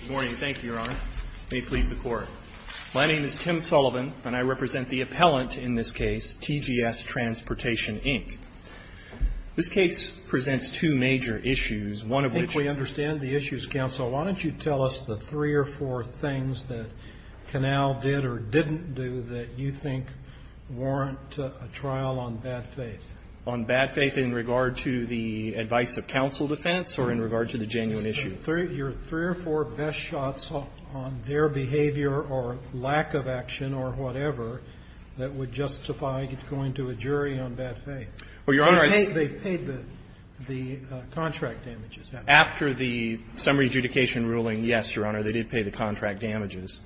Good morning. Thank you, Your Honor. May it please the Court. My name is Tim Sullivan, and I represent the appellant in this case, TGS Transportation, Inc. This case presents two major issues, one of which- I think we understand the issues, Counsel. Why don't you tell us the three or four things that Canal did or didn't do that you think warrant a trial on bad faith? On bad faith in regard to the advice of counsel defense or in regard to the genuine issue? Your three or four best shots on their behavior or lack of action or whatever that would justify going to a jury on bad faith. They paid the contract damages. After the summary adjudication ruling, yes, Your Honor, they did pay the contract damages.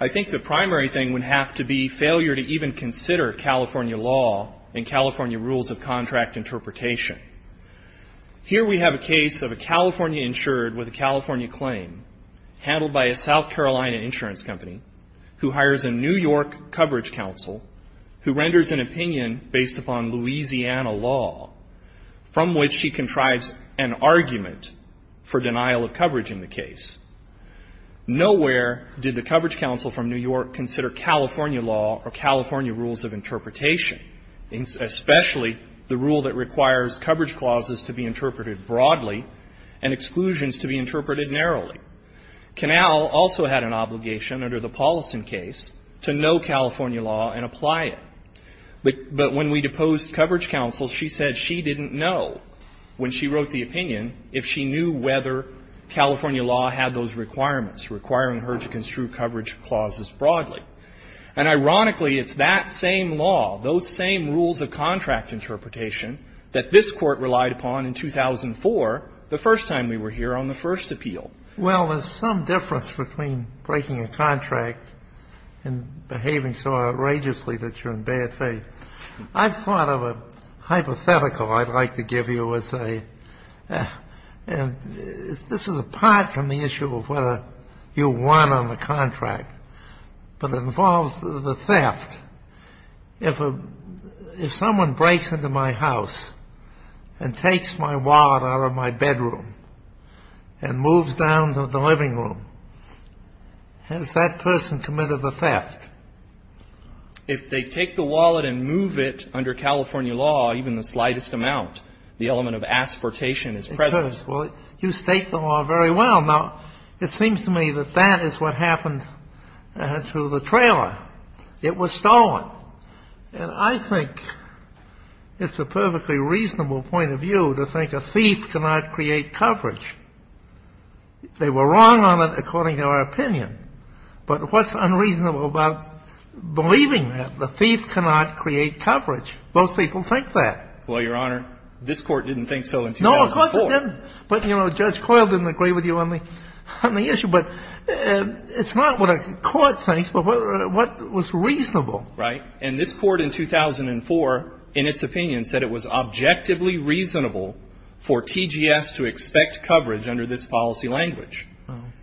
I think the primary thing would have to be failure to even consider California law and California rules of contract interpretation. Here we have a case of a California insured with a California claim, handled by a South Carolina insurance company, who hires a New York coverage counsel who renders an opinion based upon Louisiana law, from which she contrives an argument for denial of coverage in the case. Nowhere did the coverage counsel from New York consider California law or California rules of interpretation, especially the rule that requires coverage clauses to be interpreted broadly and exclusions to be interpreted narrowly. Canal also had an obligation under the Paulson case to know California law and apply it. But when we deposed coverage counsel, she said she didn't know, when she wrote the opinion, if she knew whether California law had those requirements, requiring her to construe coverage clauses broadly. And ironically, it's that same law, those same rules of contract interpretation, that this Court relied upon in 2004, the first time we were here on the first appeal. Well, there's some difference between breaking a contract and behaving so outrageously that you're in bad faith. I've thought of a hypothetical I'd like to give you as a – this is apart from the issue of whether you won on the contract. But it involves the theft. If a – if someone breaks into my house and takes my wallet out of my bedroom and moves down to the living room, has that person committed the theft? If they take the wallet and move it under California law, even the slightest amount, the element of aspertation is present. Well, you state the law very well. Now, it seems to me that that is what happened to the trailer. It was stolen. And I think it's a perfectly reasonable point of view to think a thief cannot create coverage. They were wrong on it, according to our opinion. But what's unreasonable about believing that the thief cannot create coverage? Most people think that. Well, Your Honor, this Court didn't think so in 2004. No, of course it didn't. But, you know, Judge Coyle didn't agree with you on the issue. But it's not what a court thinks, but what was reasonable. Right. And this Court in 2004, in its opinion, said it was objectively reasonable for TGS to expect coverage under this policy language.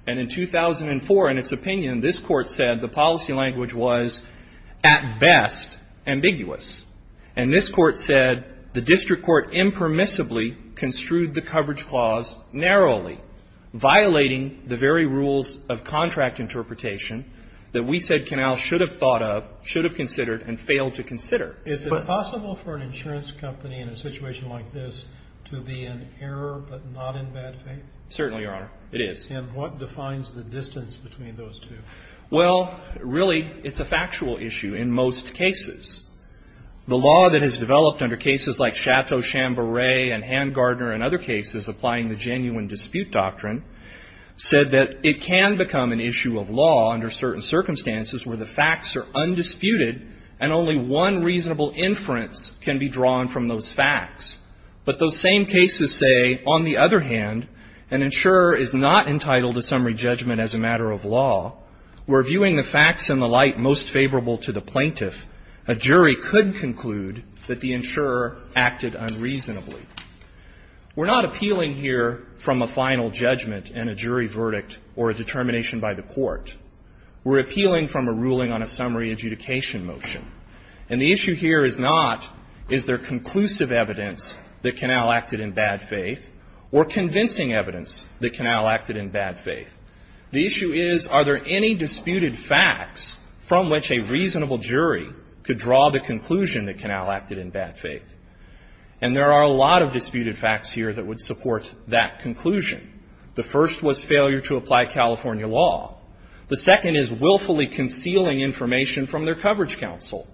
And in 2004, in its opinion, this Court said the policy language was, at best, ambiguous. And this Court said the district court impermissibly construed the coverage clause narrowly, violating the very rules of contract interpretation that we said Canals should have thought of, should have considered, and failed to consider. Is it possible for an insurance company in a situation like this to be in error but not in bad faith? Certainly, Your Honor. It is. And what defines the distance between those two? Well, really, it's a factual issue in most cases. The law that has developed under cases like Chateau-Chamberay and Handgardner and other cases applying the genuine dispute doctrine said that it can become an issue of law under certain circumstances where the facts are undisputed and only one reasonable inference can be drawn from those facts. But those same cases say, on the other hand, an insurer is not entitled to summary judgment as a matter of law where, viewing the facts and the light most favorable to the plaintiff, a jury could conclude that the insurer acted unreasonably. We're not appealing here from a final judgment and a jury verdict or a determination by the court. We're appealing from a ruling on a summary adjudication motion. And the issue here is not, is there conclusive evidence that Canal acted in bad faith or convincing evidence that Canal acted in bad faith. The issue is, are there any disputed facts from which a reasonable jury could draw the conclusion that Canal acted in bad faith? And there are a lot of disputed facts here that would support that conclusion. The first was failure to apply California law. The second is willfully concealing information from their coverage counsel.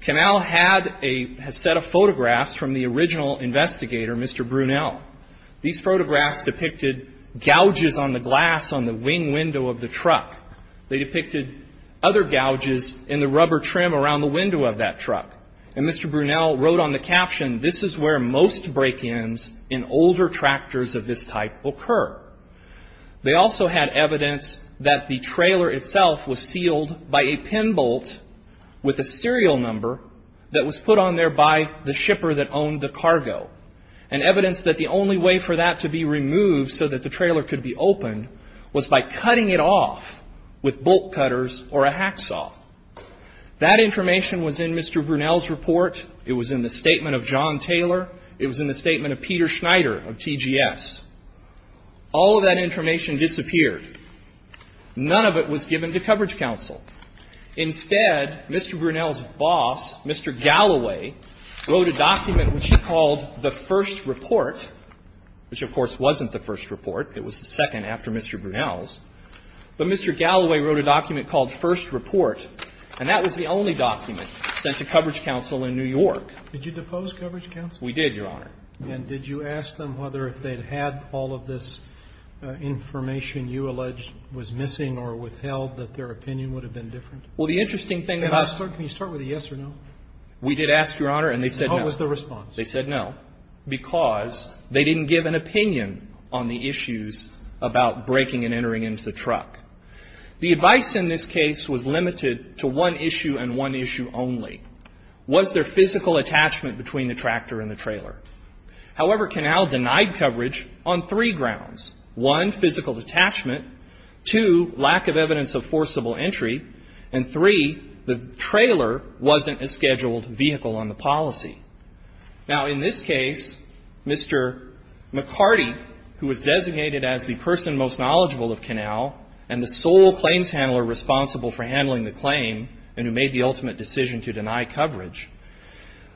Canal had a set of photographs from the original investigator, Mr. Brunel. These photographs depicted gouges on the glass on the wing window of the truck. They depicted other gouges in the rubber trim around the window of that truck. And Mr. Brunel wrote on the caption, this is where most break-ins in older tractors of this type occur. They also had evidence that the trailer itself was sealed by a pin bolt with a serial number that was put on there by the shipper that owned the cargo. And evidence that the only way for that to be removed so that the trailer could be opened was by cutting it off with bolt cutters or a hacksaw. That information was in Mr. Brunel's report. It was in the statement of John Taylor. It was in the statement of Peter Schneider of TGS. All of that information disappeared. None of it was given to coverage counsel. Instead, Mr. Brunel's boss, Mr. Galloway, wrote a document which he called the first report, which, of course, wasn't the first report. It was the second after Mr. Brunel's. But Mr. Galloway wrote a document called First Report, and that was the only document sent to coverage counsel in New York. Did you depose coverage counsel? We did, Your Honor. And did you ask them whether if they'd had all of this information you alleged was missing or withheld, that their opinion would have been different? Well, the interesting thing about Can you start with a yes or no? We did ask, Your Honor, and they said no. And what was their response? They said no, because they didn't give an opinion on the issues about breaking and entering into the truck. The advice in this case was limited to one issue and one issue only. Was there physical attachment between the tractor and the trailer? However, Canal denied coverage on three grounds. One, physical detachment. Two, lack of evidence of forcible entry. And three, the trailer wasn't a scheduled vehicle on the policy. Now, in this case, Mr. McCarty, who was designated as the person most knowledgeable of Canal and the sole claims handler responsible for handling the claim and who made the ultimate decision to deny coverage,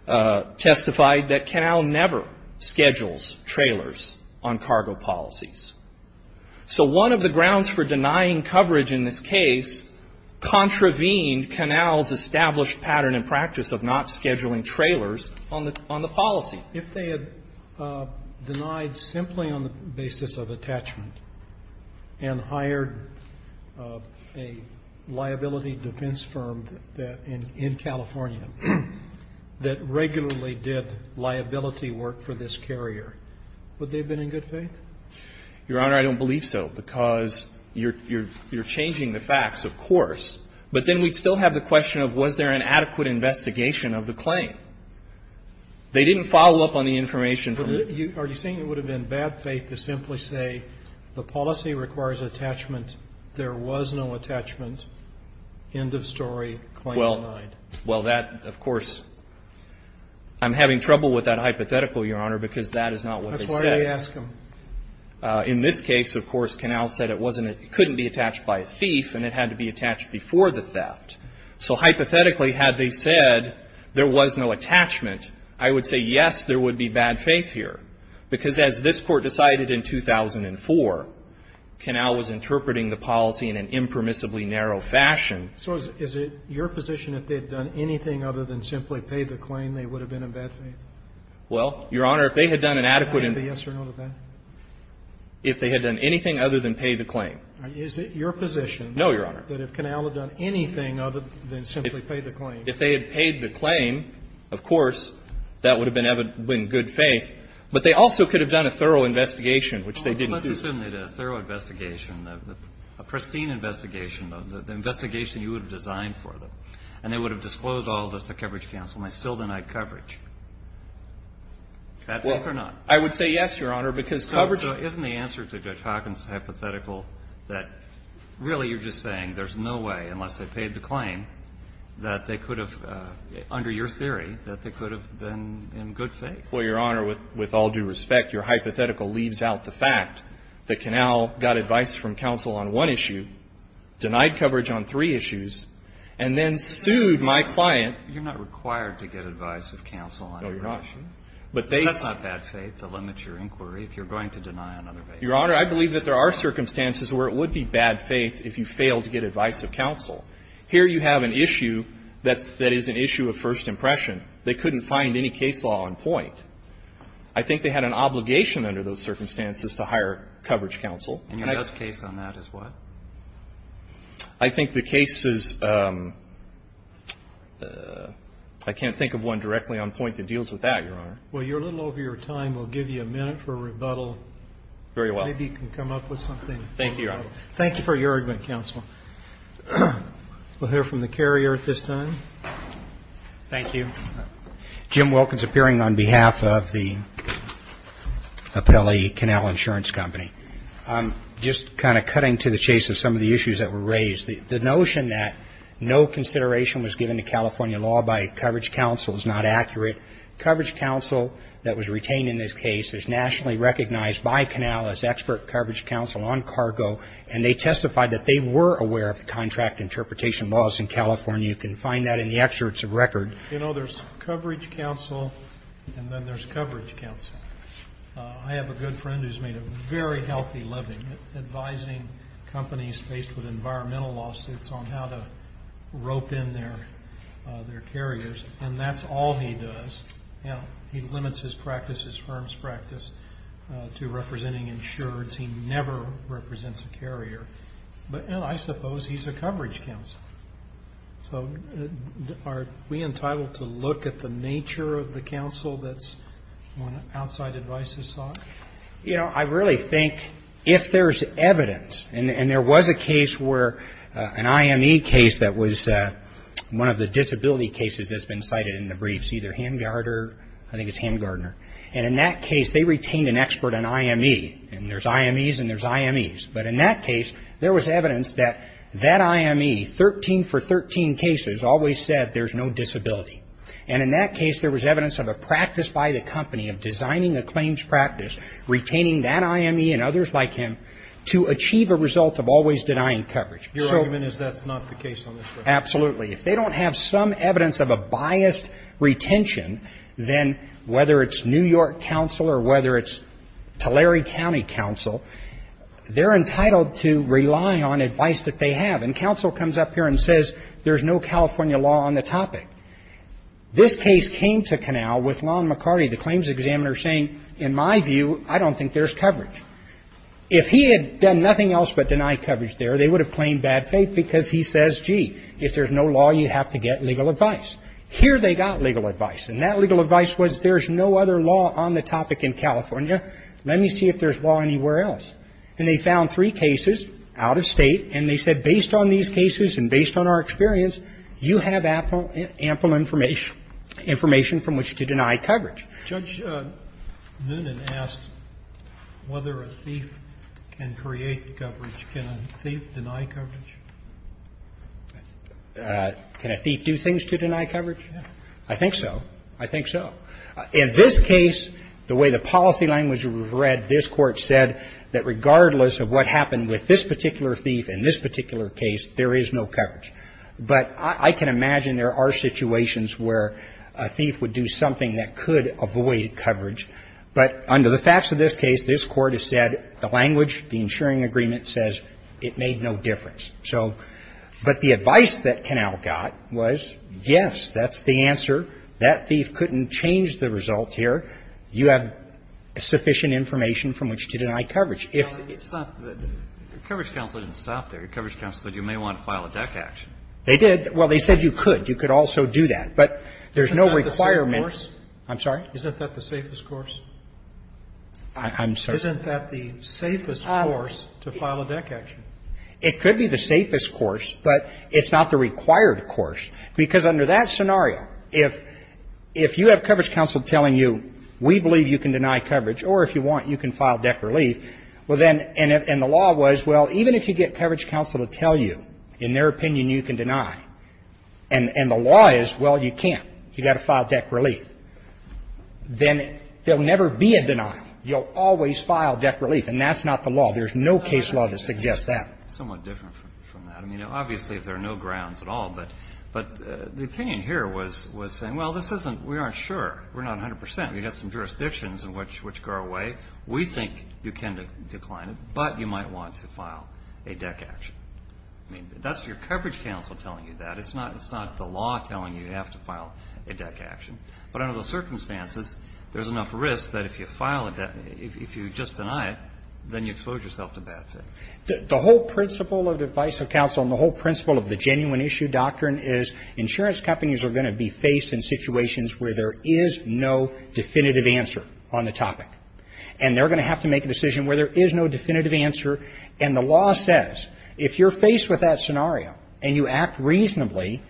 testified that Canal never schedules trailers on cargo policies. So one of the grounds for denying coverage in this case contravened Canal's established pattern and practice of not scheduling trailers on the policy. If they had denied simply on the basis of attachment and hired a liability defense firm in California that regularly did liability work for this carrier, would they have been in good faith? Your Honor, I don't believe so, because you're changing the facts, of course. But then we'd still have the question of was there an adequate investigation of the claim. They didn't follow up on the information from the ---- Are you saying it would have been bad faith to simply say the policy requires attachment, there was no attachment, end of story, claim denied? Well, that, of course, I'm having trouble with that hypothetical, Your Honor, because that is not what they said. That's why I ask them. In this case, of course, Canal said it wasn't ---- it couldn't be attached by a thief and it had to be attached before the theft. So hypothetically, had they said there was no attachment, I would say, yes, there would be bad faith here. Because as this Court decided in 2004, Canal was interpreting the policy in an impermissibly narrow fashion. So is it your position that if they had done anything other than simply pay the claim, they would have been in bad faith? Well, Your Honor, if they had done an adequate ---- Would that be a yes or no to that? If they had done anything other than pay the claim. Is it your position ---- No, Your Honor. ---- that if Canal had done anything other than simply pay the claim? If they had paid the claim, of course, that would have been in good faith. But they also could have done a thorough investigation, which they didn't do. Well, let's assume they did a thorough investigation, a pristine investigation, the investigation you would have designed for them, and they would have disclosed all of this to Coverage Counsel and they still denied coverage. Bad faith or not? Well, I would say yes, Your Honor, because coverage ---- So isn't the answer to Judge Hawkins' hypothetical that really you're just saying there's no way, unless they paid the claim, that they could have, under your theory, that they could have been in good faith? Well, Your Honor, with all due respect, your hypothetical leaves out the fact that Canal got advice from counsel on one issue, denied coverage on three issues, and then sued my client. You're not required to get advice of counsel on every issue. No, you're not. That's not bad faith to limit your inquiry if you're going to deny on other bases. Your Honor, I believe that there are circumstances where it would be bad faith if you failed to get advice of counsel. Here you have an issue that is an issue of first impression. They couldn't find any case law on point. I think they had an obligation under those circumstances to hire Coverage Counsel. And your best case on that is what? I think the case is ---- I can't think of one directly on point that deals with that, Your Honor. Well, you're a little over your time. We'll give you a minute for rebuttal. Very well. Maybe you can come up with something. Thank you, Your Honor. Thanks for your argument, counsel. We'll hear from the carrier at this time. Thank you. Jim Wilkins appearing on behalf of the Appellee Canal Insurance Company. Just kind of cutting to the chase of some of the issues that were raised, the notion that no consideration was given to California law by Coverage Counsel is not accurate. Coverage Counsel that was retained in this case is nationally recognized by Canal as expert Coverage Counsel on cargo, and they testified that they were aware of the contract interpretation laws in California. You can find that in the excerpts of record. You know, there's Coverage Counsel and then there's Coverage Counsel. I have a good friend who's made a very healthy living advising companies based with environmental lawsuits on how to rope in their carriers, and that's all he does. He limits his practice, his firm's practice, to representing insureds. He never represents a carrier. But I suppose he's a Coverage Counsel. So are we entitled to look at the nature of the counsel? That's one outside advice you sought? You know, I really think if there's evidence, and there was a case where an IME case that was one of the disability cases that's been cited in the briefs, either Hamgardner, I think it's Hamgardner, and in that case they retained an expert on IME, and there's IMEs and there's IMEs. But in that case, there was evidence that that IME, 13 for 13 cases, always said there's no disability. And in that case, there was evidence of a practice by the company of designing a claims practice, retaining that IME and others like him to achieve a result of always denying coverage. Your argument is that's not the case on this record? Absolutely. If they don't have some evidence of a biased retention, then whether it's New York counsel or whether it's Tulare County counsel, they're entitled to rely on advice that they have. And counsel comes up here and says there's no California law on the topic. This case came to canal with Lon McCarty, the claims examiner, saying, in my view, I don't think there's coverage. If he had done nothing else but deny coverage there, they would have claimed bad faith because he says, gee, if there's no law, you have to get legal advice. Here they got legal advice, and that legal advice was there's no other law on the topic in California. Let me see if there's law anywhere else. And they found three cases out of State, and they said based on these cases and based on our experience, you have ample information from which to deny coverage. Judge Noonan asked whether a thief can create coverage. Can a thief deny coverage? Can a thief do things to deny coverage? I think so. I think so. In this case, the way the policy language was read, this Court said that regardless of what happened with this particular thief in this particular case, there is no coverage. But I can imagine there are situations where a thief would do something that could avoid coverage. But under the facts of this case, this Court has said the language, the ensuring agreement, says it made no difference. So but the advice that canal got was, yes, that's the answer. That thief couldn't change the result here. You have sufficient information from which to deny coverage. If it's not that the coverage counsel didn't stop there. The coverage counsel said you may want to file a deck action. They did. Well, they said you could. You could also do that. But there's no requirement. Isn't that the safe course? I'm sorry? Isn't that the safest course? I'm sorry. Isn't that the safest course to file a deck action? It could be the safest course, but it's not the required course. So there's no reason to deny coverage. Because under that scenario, if you have coverage counsel telling you we believe you can deny coverage or if you want you can file deck relief, well then, and the law was, well, even if you get coverage counsel to tell you in their opinion you can deny, and the law is, well, you can't. You've got to file deck relief. Then there will never be a denial. You'll always file deck relief. And that's not the law. There's no case law that suggests that. Somewhat different from that. I mean, obviously there are no grounds at all. But the opinion here was saying, well, this isn't, we aren't sure. We're not 100%. We've got some jurisdictions which go our way. We think you can decline it, but you might want to file a deck action. I mean, that's your coverage counsel telling you that. It's not the law telling you you have to file a deck action. But under those circumstances, there's enough risk that if you file a deck, if you just deny it, then you expose yourself to bad faith. The whole principle of the advice of counsel and the whole principle of the genuine issue doctrine is insurance companies are going to be faced in situations where there is no definitive answer on the topic. And they're going to have to make a decision where there is no definitive answer. And the law says if you're faced with that scenario and you act reasonably,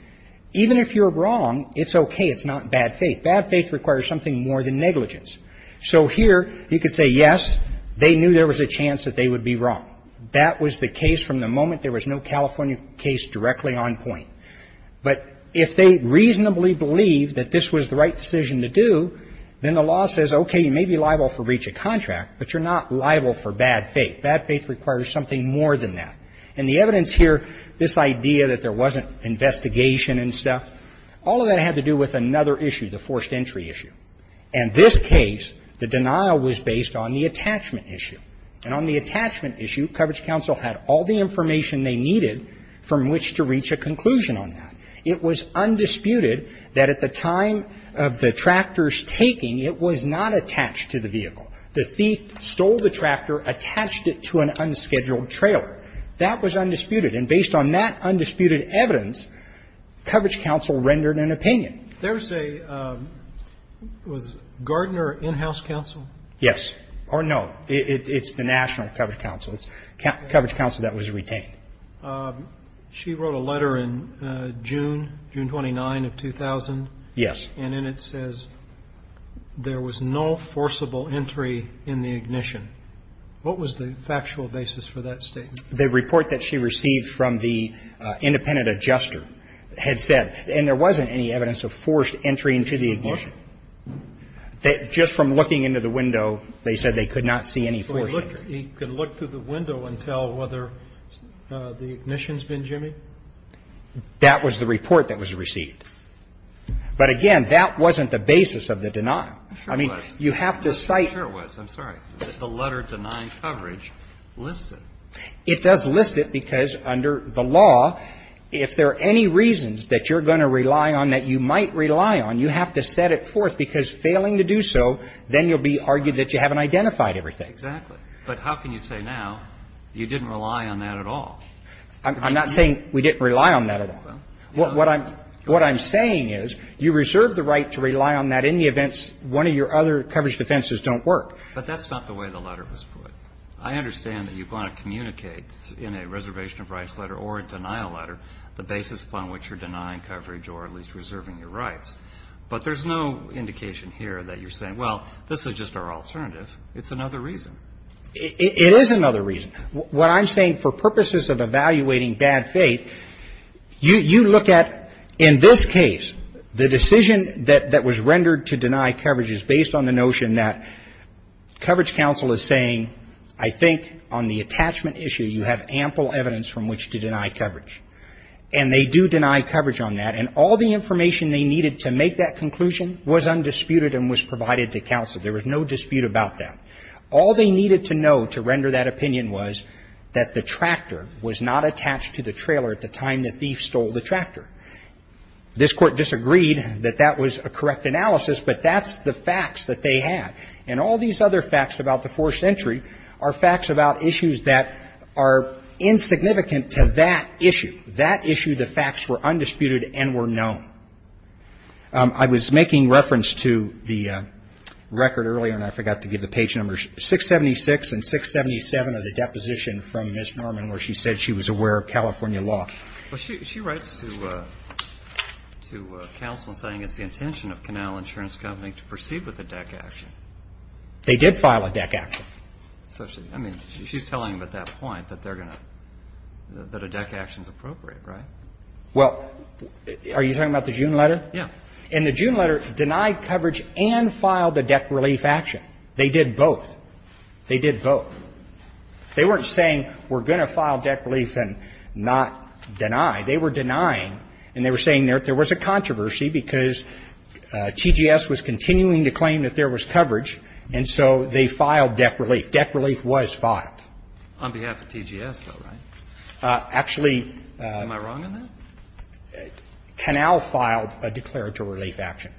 even if you're wrong, it's okay. It's not bad faith. Bad faith requires something more than negligence. So here you could say, yes, they knew there was a chance that they would be wrong. That was the case from the moment there was no California case directly on point. But if they reasonably believe that this was the right decision to do, then the law says, okay, you may be liable for breach of contract, but you're not liable for bad faith. Bad faith requires something more than that. And the evidence here, this idea that there wasn't investigation and stuff, all of that had to do with another issue, the forced entry issue. And this case, the denial was based on the attachment issue. And on the attachment issue, Coverage Counsel had all the information they needed from which to reach a conclusion on that. It was undisputed that at the time of the tractor's taking, it was not attached to the vehicle. The thief stole the tractor, attached it to an unscheduled trailer. That was undisputed. And based on that undisputed evidence, Coverage Counsel rendered an opinion. There's a ñ was Gardner in-house counsel? Yes. Or no. It's the National Coverage Counsel. It's Coverage Counsel that was retained. She wrote a letter in June, June 29 of 2000. Yes. And in it says there was no forcible entry in the ignition. What was the factual basis for that statement? The report that she received from the independent adjuster had said, and there wasn't any evidence of forced entry into the ignition. Just from looking into the window, they said they could not see any forced entry. He could look through the window and tell whether the ignition's been jimmied? That was the report that was received. But, again, that wasn't the basis of the denial. I mean, you have to cite ñ Sure it was. I'm sorry. Is the letter denying coverage listed? It does list it because under the law, if there are any reasons that you're going to rely on that you might rely on, you have to set it forth. Because failing to do so, then you'll be argued that you haven't identified everything. Exactly. But how can you say now you didn't rely on that at all? I'm not saying we didn't rely on that at all. What I'm saying is you reserve the right to rely on that in the events one of your other coverage defenses don't work. But that's not the way the letter was put. I understand that you want to communicate in a reservation of rights letter or a denial letter the basis upon which you're denying coverage or at least reserving your rights. But there's no indication here that you're saying, well, this is just our alternative. It's another reason. It is another reason. What I'm saying, for purposes of evaluating bad faith, you look at, in this case, the decision that was rendered to deny coverage is based on the notion that coverage counsel is saying, I think on the attachment issue you have ample evidence from which to deny coverage. And they do deny coverage on that. And all the information they needed to make that conclusion was undisputed and was provided to counsel. There was no dispute about that. All they needed to know to render that opinion was that the tractor was not attached to the trailer at the time the thief stole the tractor. This Court disagreed that that was a correct analysis, but that's the facts that they had. And all these other facts about the forced entry are facts about issues that are insignificant to that issue. That issue, the facts were undisputed and were known. I was making reference to the record earlier, and I forgot to give the page numbers, 676 and 677 of the deposition from Ms. Norman where she said she was aware of California law. Well, she writes to counsel saying it's the intention of Canal Insurance Company to proceed with a deck action. They did file a deck action. I mean, she's telling them at that point that they're going to, that a deck action is appropriate, right? Well, are you talking about the June letter? Yeah. And the June letter denied coverage and filed a deck relief action. They did both. They did both. They weren't saying we're going to file deck relief and not deny. They were denying. And they were saying there was a controversy because TGS was continuing to claim that there was coverage, and so they filed deck relief. Deck relief was filed. On behalf of TGS, though, right? Actually, Canal filed a declaratory relief action.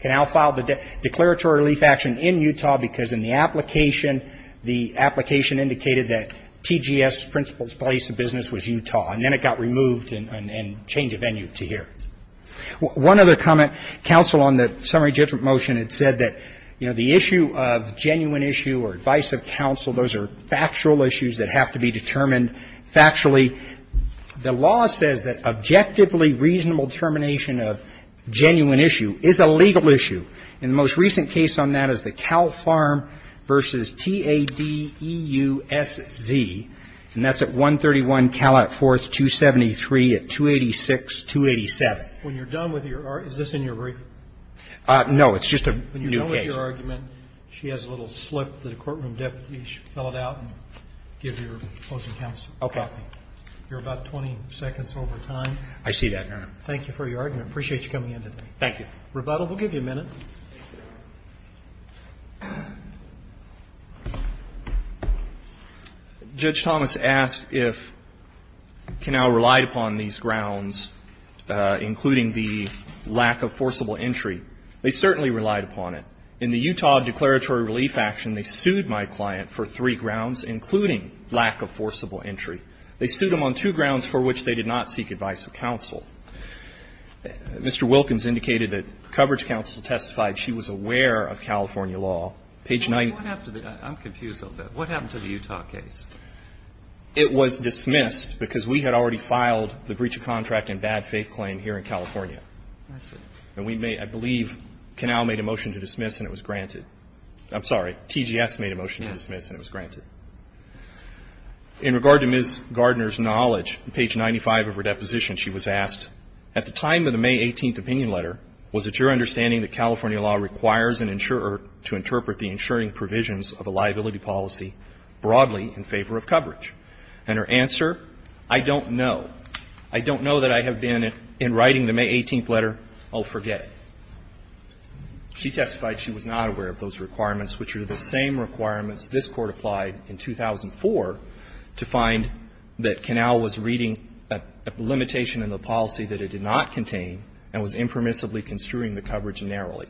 Canal filed a declaratory relief action in Utah because in the application, the application indicated that TGS's principal place of business was Utah. And then it got removed and changed the venue to here. One other comment. Counsel on the summary judgment motion had said that, you know, the issue of genuine issue or advice of counsel, those are factual issues that have to be determined factually. The law says that objectively reasonable determination of genuine issue is a legal issue. And the most recent case on that is the Cal Farm v. T-A-D-E-U-S-Z. And that's at 131 Calat Forth 273 at 286-287. When you're done with your argument, is this in your brief? No. It's just a new case. When you're done with your argument, she has a little slip that a courtroom deputy should fill it out and give your opposing counsel. Okay. You're about 20 seconds over time. I see that, Your Honor. Thank you for your argument. I appreciate you coming in today. Thank you. We'll give you a minute. Judge Thomas asked if Canal relied upon these grounds, including the lack of forcible entry. They certainly relied upon it. In the Utah Declaratory Relief Action, they sued my client for three grounds, including lack of forcible entry. They sued him on two grounds for which they did not seek advice of counsel. I'm confused a little bit. What happened to the Utah case? It was dismissed because we had already filed the breach of contract and bad faith claim here in California. I see. And I believe Canal made a motion to dismiss and it was granted. I'm sorry. TGS made a motion to dismiss and it was granted. In regard to Ms. Gardner's knowledge, page 95 of her deposition, she was asked, at the time of the May 18th opinion letter, was it your understanding that California law requires an insurer to interpret the insuring provisions of a liability policy broadly in favor of coverage? And her answer, I don't know. I don't know that I have been, in writing the May 18th letter, I'll forget it. She testified she was not aware of those requirements, which are the same requirements this Court applied in 2004 to find that Canal was reading a limitation in the policy that it did not contain and was impermissibly construing the coverage narrowly.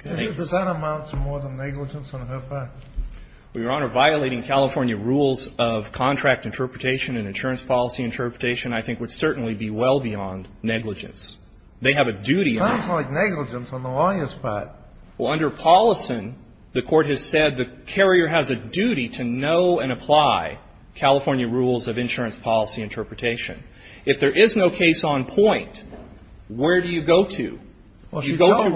Thank you. Does that amount to more than negligence on her part? Well, Your Honor, violating California rules of contract interpretation and insurance policy interpretation I think would certainly be well beyond negligence. They have a duty on it. It sounds like negligence on the lawyer's part. Well, under Paulison, the Court has said the carrier has a duty to know and apply California rules of insurance policy interpretation. If there is no case on point, where do you go to? You go to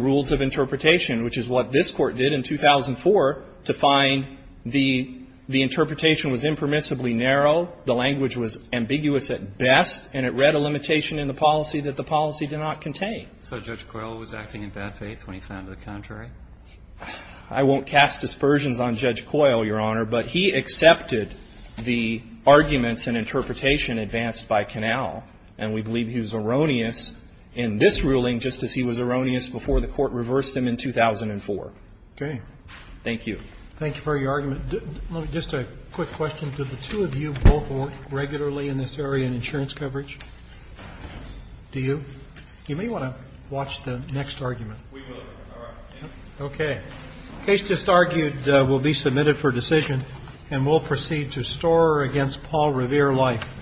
rules of interpretation, which is what this Court did in 2004 to find the interpretation was impermissibly narrow, the language was ambiguous at best, and it was not a limitation in the policy that the policy did not contain. So Judge Coyle was acting in bad faith when he found it contrary? I won't cast dispersions on Judge Coyle, Your Honor, but he accepted the arguments and interpretation advanced by Canal, and we believe he was erroneous in this ruling just as he was erroneous before the Court reversed him in 2004. Okay. Thank you. Thank you for your argument. Just a quick question. Did the two of you both work regularly in this area in insurance coverage? Do you? You may want to watch the next argument. We will. All right. Okay. The case just argued will be submitted for decision, and we'll proceed to Storer v. Paul Revere Life.